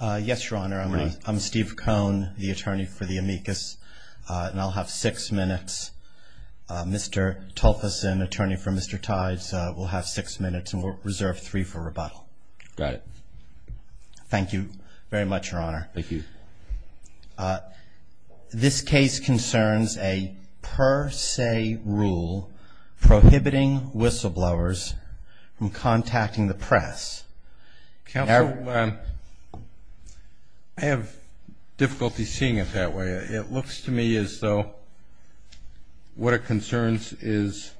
yes your honor I'm Steve Cohn the attorney for the amicus and I'll have six minutes mr. Tulfason attorney for mr. Tides will have six minutes and we'll reserve three for rebuttal got it thank you very much your honor thank you this case concerns a per se rule prohibiting whistleblowers from contacting the press I have difficulty seeing it that way it looks to me as though what it concerns is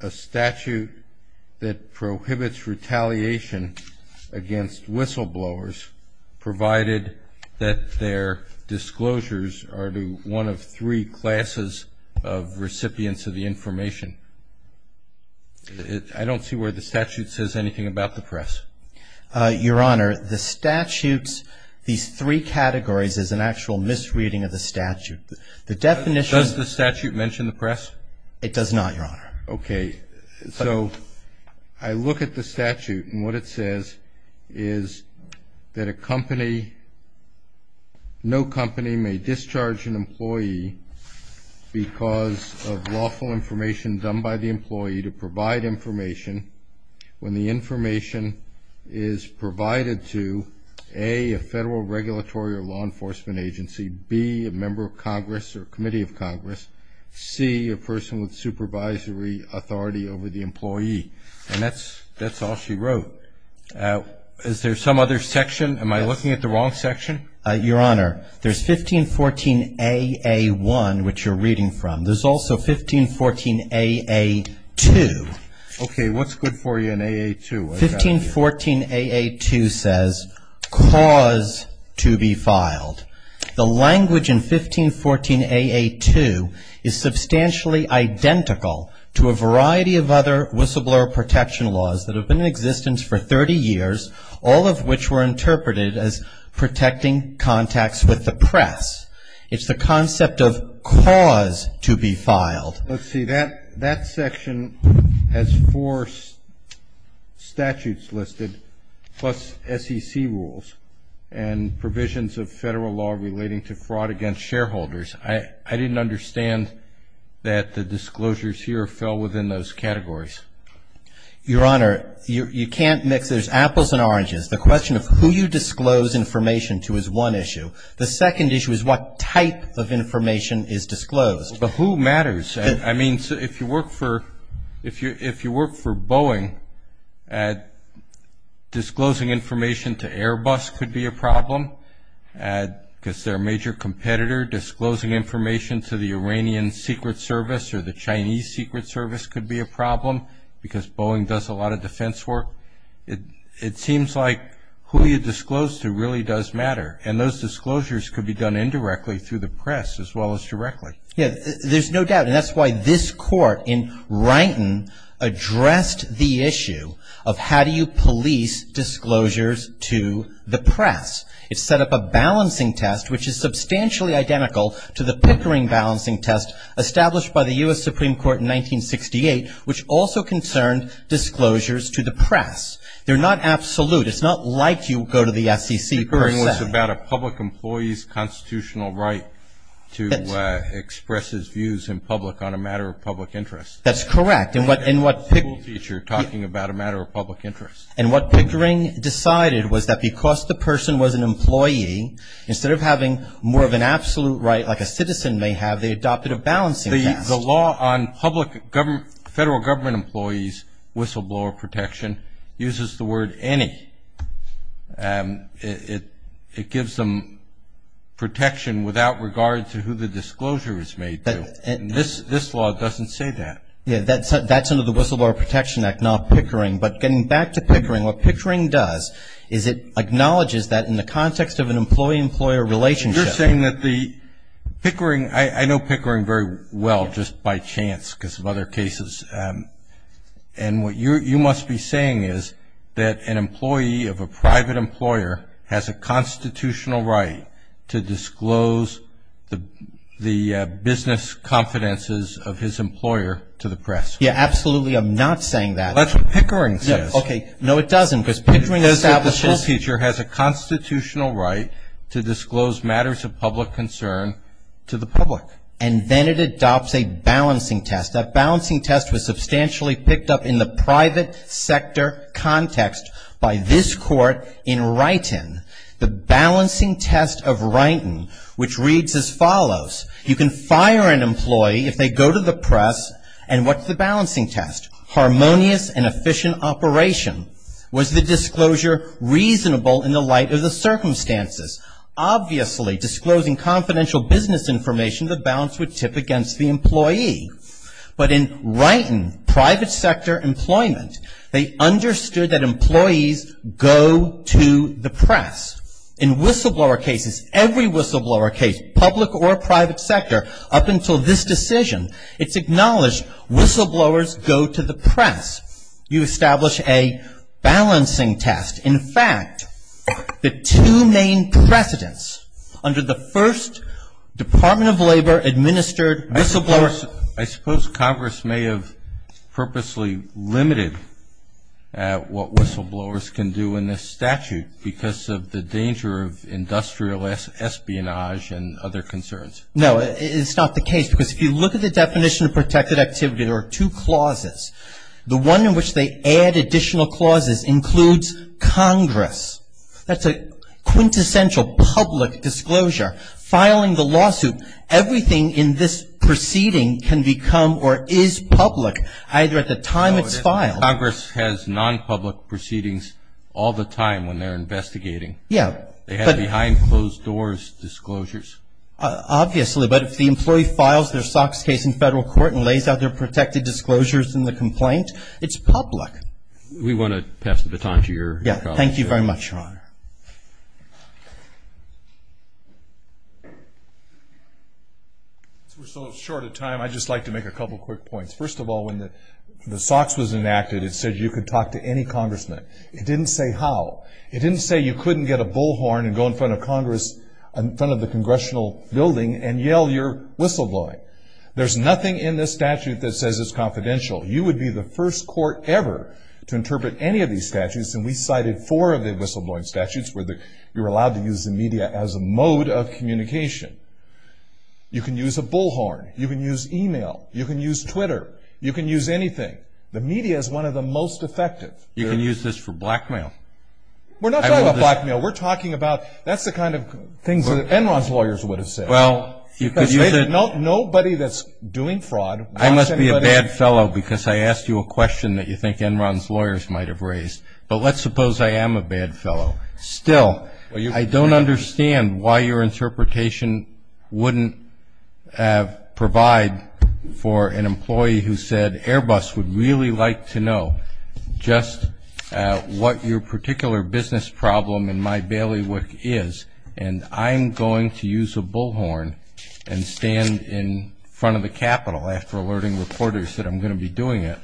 a statute that prohibits retaliation against whistleblowers provided that their disclosures are to one of three classes of recipients of the information I don't see where the statute says anything about the press your honor the statutes these three categories is an actual misreading of the statute the definition of the statute mentioned the press it does not your honor okay so I look at the statute and what it says is that a company no company may discharge an employee because of lawful information done by the employee to provide information when the information is provided to a federal regulatory or law enforcement agency be a member of Congress or Committee of Congress see a person with supervisory authority over the employee and that's that's all she wrote is there some other section am I looking at the wrong section your honor there's 1514 a a1 which you're reading from there's also 1514 a a2 okay what's good for you in a a2 1514 a a2 says cause to be filed the language in 1514 a a2 is substantially identical to a variety of other whistleblower protection laws that have been in existence for 30 years all of which were with the press it's the concept of cause to be filed let's see that that section has four statutes listed plus SEC rules and provisions of federal law relating to fraud against shareholders I I didn't understand that the disclosures here fell within those categories your honor you can't mix there's apples and oranges the question of who you disclose information to is one issue the second issue is what type of information is disclosed but who matters I mean so if you work for if you if you work for Boeing at disclosing information to Airbus could be a problem and because their major competitor disclosing information to the Iranian Secret Service or the Chinese Secret Service could be a problem because Boeing does a lot of defense work it it seems like who you disclose to really does matter and those disclosures could be done indirectly through the press as well as directly yeah there's no doubt and that's why this court in Wrighton addressed the issue of how do you police disclosures to the press it's set up a balancing test which is substantially identical to the Pickering balancing test established by the US Supreme Court in 1968 which also concerned disclosures to the press they're not absolute it's not like you go to the SEC. Pickering was about a public employee's constitutional right to express his views in public on a matter of public interest that's correct in what in what picture talking about a matter of public interest and what Pickering decided was that because the person was an employee instead of having more of an absolute right like a citizen may have they adopted a balancing the law on public government federal government employees whistleblower protection uses the word any it it gives them protection without regard to who the disclosure is made and this this law doesn't say that yeah that's that's under the Whistleblower Protection Act not Pickering but getting back to Pickering what Pickering does is it acknowledges that in the context of an employee-employer relationship saying that the Pickering I know Pickering very well just by chance because of other cases and what you're you must be saying is that an employee of a private employer has a constitutional right to disclose the the business confidences of his employer to the press yeah absolutely I'm not saying that that's what Pickering says okay no it doesn't because Pickering establishes the school teacher has a constitutional right to disclose matters of public concern to the public and then it adopts a balancing test that balancing test was substantially picked up in the private sector context by this court in right in the balancing test of writing which reads as follows you can fire an employee if they go to the press and what's the balancing test harmonious and efficient operation was the disclosure reasonable in the light of the circumstances obviously disclosing confidential business information the balance would tip against the employee but in writing private sector employment they understood that employees go to the press in whistleblower cases every whistleblower case public or private sector up until this decision it's acknowledged whistleblowers go to the press you establish a balancing test in fact the two main precedents under the first Department of Labor administered whistleblowers I suppose Congress may have purposely limited what whistleblowers can do in this statute because of the danger of industrial espionage and other concerns no it's not the case because if you look at the definition of protected activity there are two clauses the one in which they add additional clauses includes Congress that's a quintessential public disclosure filing the lawsuit everything in this proceeding can become or is public either at the time it's filed Congress has non-public proceedings all the time when they're investigating yeah they have behind closed doors disclosures obviously but if the employee files their SOX case in federal court and lays out their protected disclosures in the complaint it's public we want to pass the baton to your yeah thank you very much your honor we're so short of time I just like to make a couple quick points first of all when the the SOX was enacted it said you could talk to any congressman it didn't say how it didn't say you couldn't get a bullhorn and go in front of Congress in front of the congressional building and yell your whistleblowing there's nothing in this statute that says it's confidential you would be the first court ever to interpret any of these statutes and we cited four of the whistleblowing statutes where they you're allowed to use the media as a mode of communication you can use a bullhorn you can use email you can use Twitter you can use anything the media is one of the most effective you can use this for blackmail we're not talking about blackmail we're talking about that's the kind of things that Enron's lawyers would have said well you could nobody that's doing fraud I must be a bad fellow because I asked you a question that you think Enron's lawyers might have raised but let's suppose I am a bad fellow still I don't understand why your interpretation wouldn't have provide for an employee who said Airbus would really like to know just what your particular business problem in my bailiwick is and I'm going to use a stand in front of the Capitol after alerting reporters that I'm going to be doing it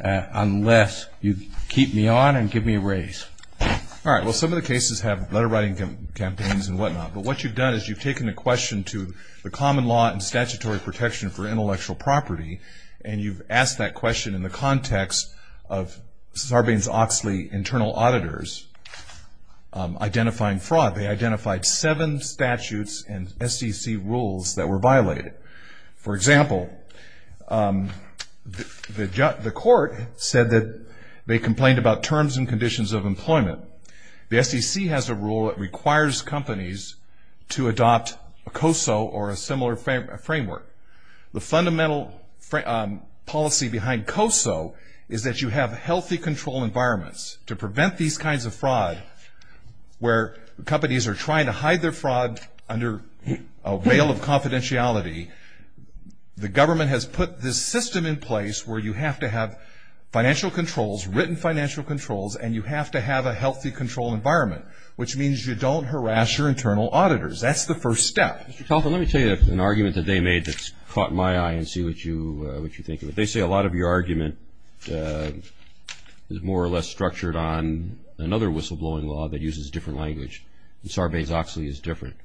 unless you keep me on and give me a raise all right well some of the cases have letter writing campaigns and whatnot but what you've done is you've taken a question to the common law and statutory protection for intellectual property and you've asked that question in the context of Sarbanes-Oxley internal auditors identifying fraud they identified seven statutes and SEC rules that were violated for example the court said that they complained about terms and conditions of employment the SEC has a rule that requires companies to adopt a COSO or a similar framework the fundamental policy behind COSO is that you have healthy control environments to prevent these kinds of fraud where companies are trying to hide their fraud under a veil of confidentiality the government has put this system in place where you have to have financial controls written financial controls and you have to have a healthy control environment which means you don't harass your internal auditors that's the first step let me tell you an argument that they made that's caught my eye and see what you what you think of it they say a lot of your argument is more or less Sarbanes-Oxley is different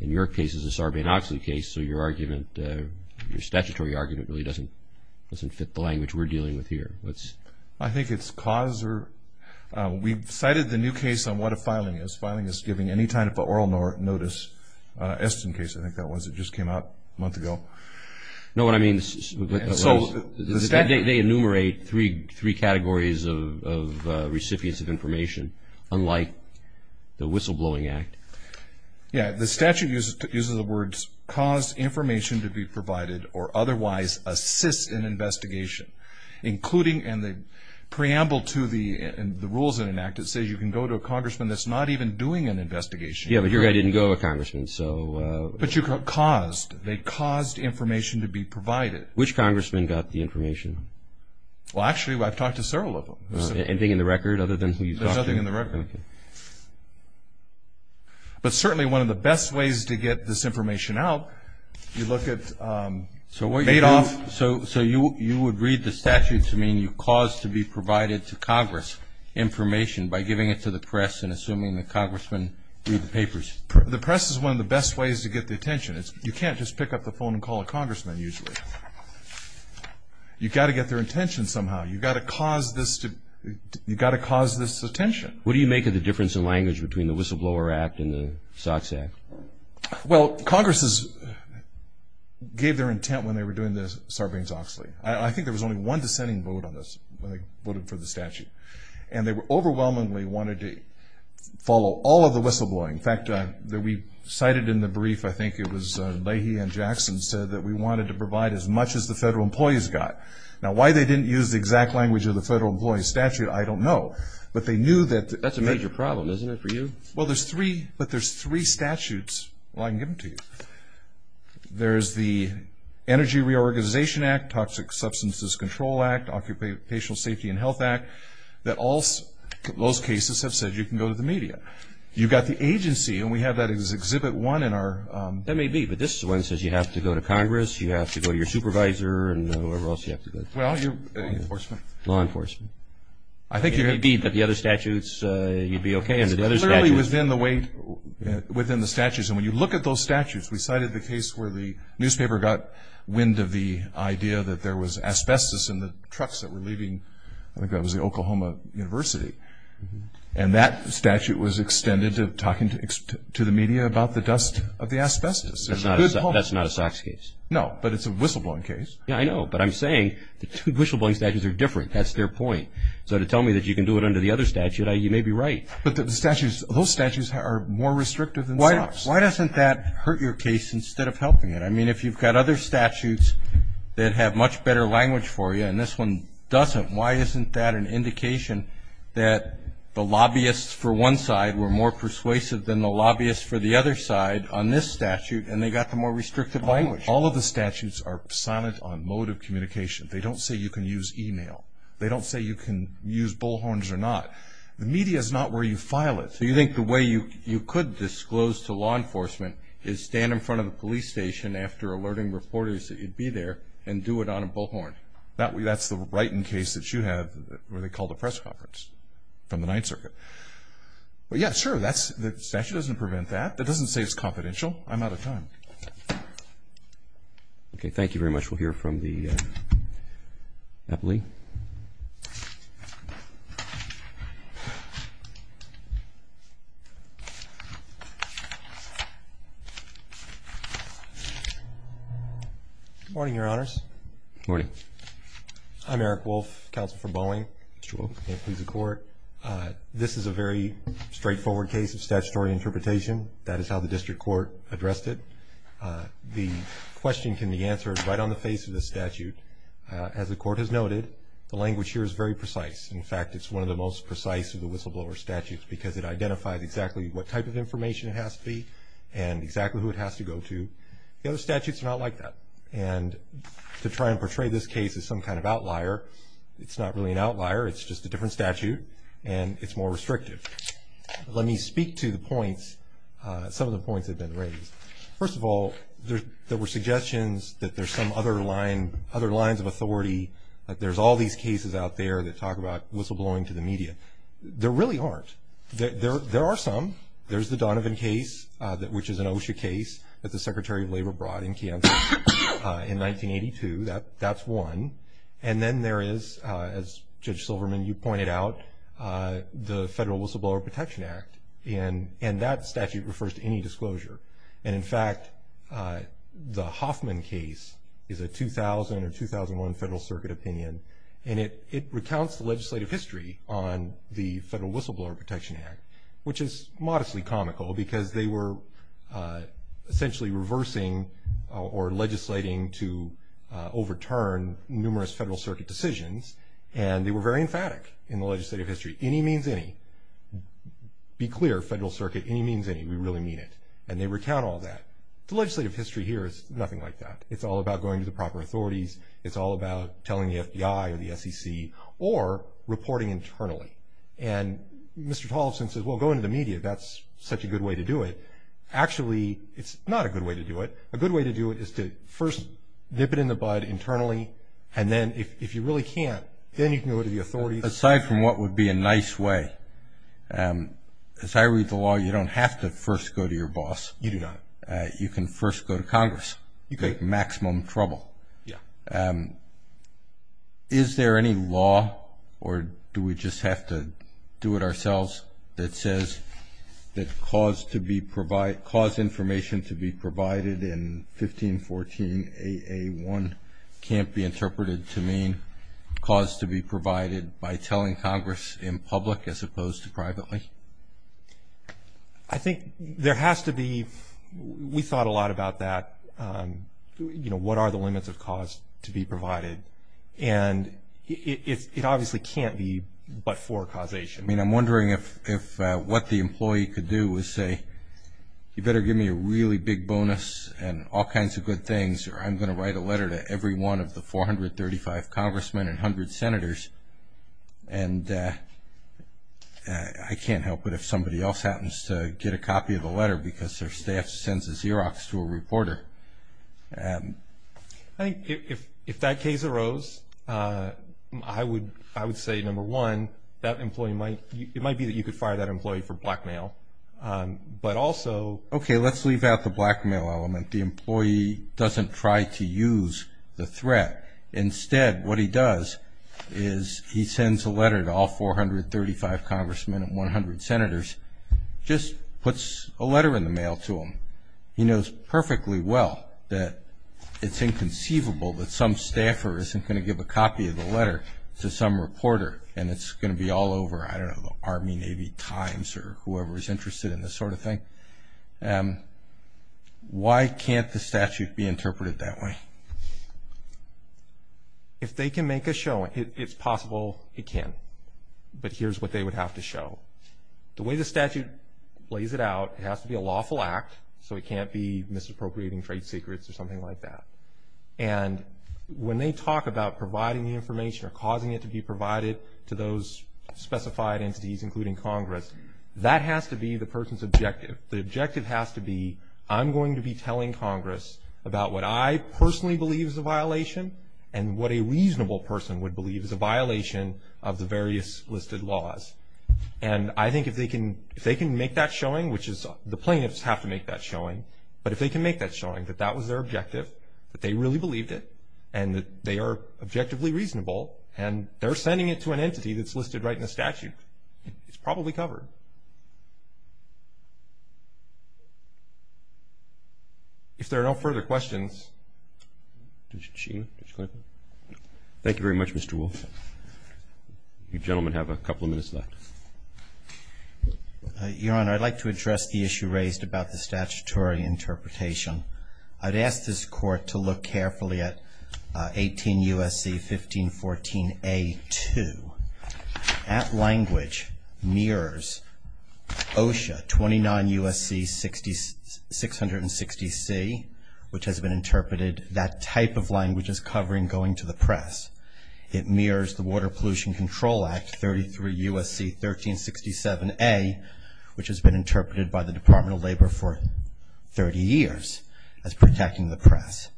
in your case is a Sarbanes-Oxley case so your argument your statutory argument really doesn't doesn't fit the language we're dealing with here what's I think it's cause or we've cited the new case on what a filing is filing is giving any time at the oral notice Esten case I think that was it just came out a month ago no what I mean so they enumerate three categories of recipients of information unlike the whistleblowing act yeah the statute uses the words cause information to be provided or otherwise assists in investigation including and the preamble to the and the rules in an act it says you can go to a congressman that's not even doing an investigation yeah but here I didn't go a congressman so but you got caused they caused information to be provided which congressman got the information well actually I've talked to several of them anything in the record other than who you thought in the record but certainly one of the best ways to get this information out you look at so what made off so so you you would read the statute to mean you cause to be provided to Congress information by giving it to the press and assuming the congressman read the papers the press is one of the best ways to get the attention it's you can't just pick up the phone and call a you've got to get their intention somehow you've got to cause this to you've got to cause this attention what do you make of the difference in language between the whistleblower act and the socks act well Congress's gave their intent when they were doing this Sarbanes-Oxley I think there was only one dissenting vote on this when they voted for the statute and they were overwhelmingly wanted to follow all of the whistleblowing in fact that we cited in the brief I think it was Leahy and Jackson said that we wanted to provide as much as the federal employees got now why they didn't use the exact language of the federal employees statute I don't know but they knew that that's a major problem isn't it for you well there's three but there's three statutes well I can give them to you there's the energy reorganization act toxic substances control act occupational safety and health act that also most cases have said you can go to the media you've got the agency and we have that as exhibit one in our that may be but this one says you have to go to Congress you have to go to your supervisor and whoever else you have to go well you enforcement law enforcement I think you're a deed that the other statutes you'd be okay in the other study was been the weight within the statutes and when you look at those statutes we cited the case where the newspaper got wind of the idea that there was asbestos in the trucks that were leaving I think that was the Oklahoma University and that statute was extended to talking to the media about the dust of the asbestos that's not a socks case no but it's a whistleblowing case yeah I know but I'm saying the two whistleblowing statutes are different that's their point so to tell me that you can do it under the other statute I you may be right but the statutes those statutes are more restrictive than why why doesn't that hurt your case instead of helping it I mean if you've got other statutes that have much better language for you and this one doesn't why isn't that an indication that the lobbyists for one side were more persuasive than the lobbyists for the other side on this statute and they got the more restrictive language all of the statutes are silent on mode of communication they don't say you can use email they don't say you can use bullhorns or not the media is not where you file it so you think the way you you could disclose to law enforcement is stand in front of the police station after alerting reporters that you'd be there and do it on a bullhorn that way that's the right in case that you have where they call the press conference from the Ninth Circuit well yeah sure that's the statute doesn't prevent that that doesn't say it's confidential I'm out of time okay thank you very much we'll hear from the Eppley morning your honors morning I'm Eric Wolf counsel for Boeing please the court this is a very straightforward case of statutory interpretation that is how the district court addressed it the question can be answered right on the face of the statute as the court has noted the language here is very precise in fact it's one of the most precise of the whistleblower statutes because it identifies exactly what type of information it has to be and exactly who it has to go to the other statutes are not like that and to try and portray this case as some kind of outlier it's not really an outlier it's just a different statute and it's more restrictive let me speak to the points some of the points have been raised first of all there were suggestions that there's some other line other lines of authority there's all these cases out there that talk about whistleblowing to the media there really aren't there there are some there's the Donovan case that which is an OSHA case that the Secretary of Labor brought in camp in 1982 that that's one and then there is as Judge Silverman you pointed out the Federal Whistleblower Protection Act and and that statute refers to any disclosure and in fact the Hoffman case is a 2000 or 2001 Federal Circuit opinion and it it recounts the legislative history on the Federal Whistleblower Protection Act which is modestly comical because they were overturned numerous Federal Circuit decisions and they were very emphatic in the legislative history any means any be clear Federal Circuit any means any we really mean it and they recount all that the legislative history here is nothing like that it's all about going to the proper authorities it's all about telling the FBI or the SEC or reporting internally and Mr. Tolson says well go into the media that's such a good way to do it actually it's not a good way to do it a good way to do it is to first dip it in the bud internally and then if you really can't then you can go to the authorities aside from what would be a nice way as I read the law you don't have to first go to your boss you do not you can first go to Congress you get maximum trouble yeah is there any law or do we just have to do it ourselves that says that cause to be provide cause information to be provided in 1514 a a1 can't be interpreted to mean cause to be provided by telling Congress in public as opposed to privately I think there has to be we thought a lot about that you know what are the limits of cause to be provided and it obviously can't be but for causation I mean I'm wondering if what the employee could do is say you better give me a really big bonus and all kinds of good things or I'm gonna write a letter to every one of the 435 congressmen and hundred senators and I can't help but if somebody else happens to get a copy of the letter because their staff sends a Xerox to a reporter I think if that case arose I would I would say number one that might be that you could fire that employee for blackmail but also okay let's leave out the blackmail element the employee doesn't try to use the threat instead what he does is he sends a letter to all 435 congressmen and 100 senators just puts a letter in the mail to him he knows perfectly well that it's inconceivable that some staffer isn't going to give a copy of the letter to some reporter and it's going to be all over I don't know the Army Navy Times or whoever is interested in this sort of thing and why can't the statute be interpreted that way if they can make a show it's possible it can but here's what they would have to show the way the statute lays it out has to be a lawful act so it can't be misappropriating trade secrets or something like that and when they talk about providing the information causing it to be provided to those specified entities including Congress that has to be the person's objective the objective has to be I'm going to be telling Congress about what I personally believe is a violation and what a reasonable person would believe is a violation of the various listed laws and I think if they can if they can make that showing which is the plaintiffs have to make that showing but if they can make that showing that that was their objective that they really believed it and they are objectively reasonable and they're sending it to an entity that's listed right in the statute it's probably covered if there are no further questions thank you very much mr. wolf you gentlemen have a couple minutes left your honor I'd like to address the issue raised about the at language mirrors OSHA 29 USC 60 660 C which has been interpreted that type of language is covering going to the press it mirrors the Water Pollution Control Act 33 USC 1367 a which has been interpreted by the Department of Labor for 30 years as protecting the press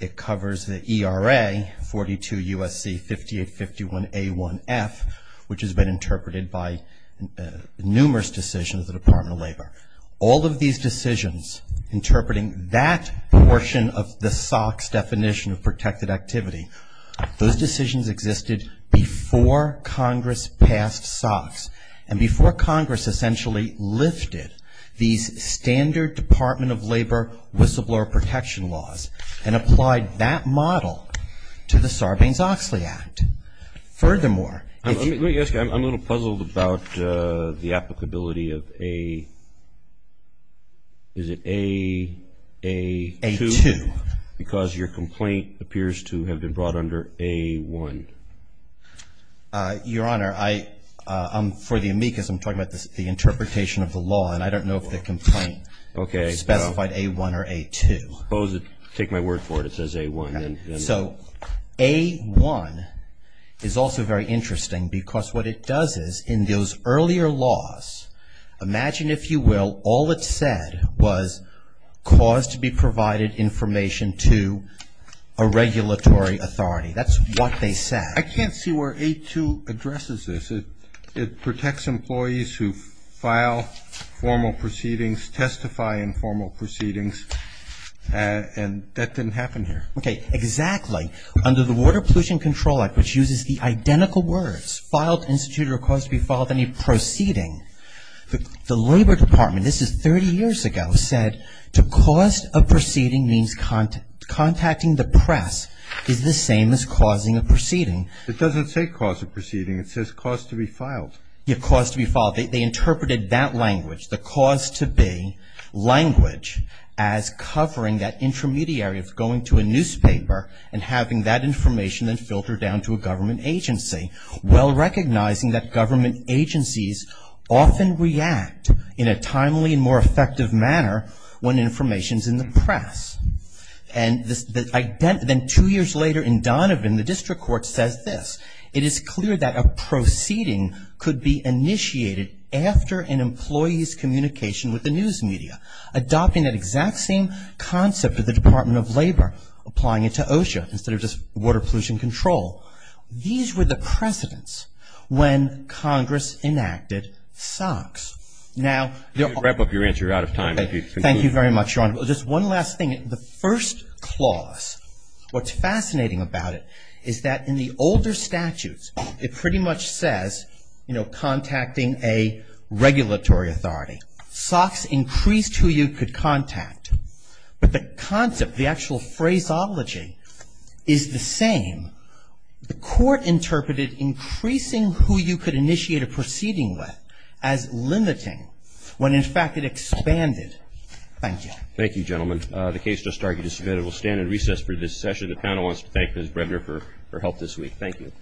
it covers the era 42 USC 58 51 a 1f which has been interpreted by numerous decisions the Department of Labor all of these decisions interpreting that portion of the socks definition of protected activity those decisions existed before Congress passed socks and before Congress essentially lifted these standard Department of Labor whistleblower protection laws and applied that model to the Sarbanes-Oxley Act furthermore I'm a little puzzled about the applicability of a is it a a a to because your complaint appears to have been brought under a one your honor I I'm for the amicus I'm talking about this the interpretation of the law and I don't know if the complaint okay specified a one or a to pose it take my word for it it says a one so a one is also very interesting because what it does is in those earlier laws imagine if you will all it said was cause to be provided information to a regulatory authority that's what they said I can't see where a to addresses this it it protects employees who file formal proceedings testify in formal proceedings and that didn't happen here okay exactly under the Water Pollution Control Act which uses the identical words filed institute or cause to be followed any proceeding the Labor Department this is 30 years ago said to cause a proceeding means contact contacting the press is the same as causing a proceeding it doesn't say cause of proceeding it says cause to be filed your cause to be followed they interpreted that language the cause to be language as covering that intermediary of going to a newspaper and having that information and filter down to a government agency well recognizing that government agencies often react in a timely and more effective manner when information's in press and then two years later in Donovan the district court says this it is clear that a proceeding could be initiated after an employee's communication with the news media adopting that exact same concept of the Department of Labor applying it to OSHA instead of just water pollution control these were the precedents when Congress enacted SOX now they'll wrap up your answer out of time thank you very much your honor well just one last thing the first clause what's fascinating about it is that in the older statutes it pretty much says you know contacting a regulatory authority SOX increased who you could contact but the concept the actual phraseology is the same the court interpreted increasing who you could initiate a proceeding with as limiting when in fact it expanded thank you thank you gentlemen the case just argued is submitted we'll stand in recess for this session the panel wants to thank Ms. Bredner for her help this week thank you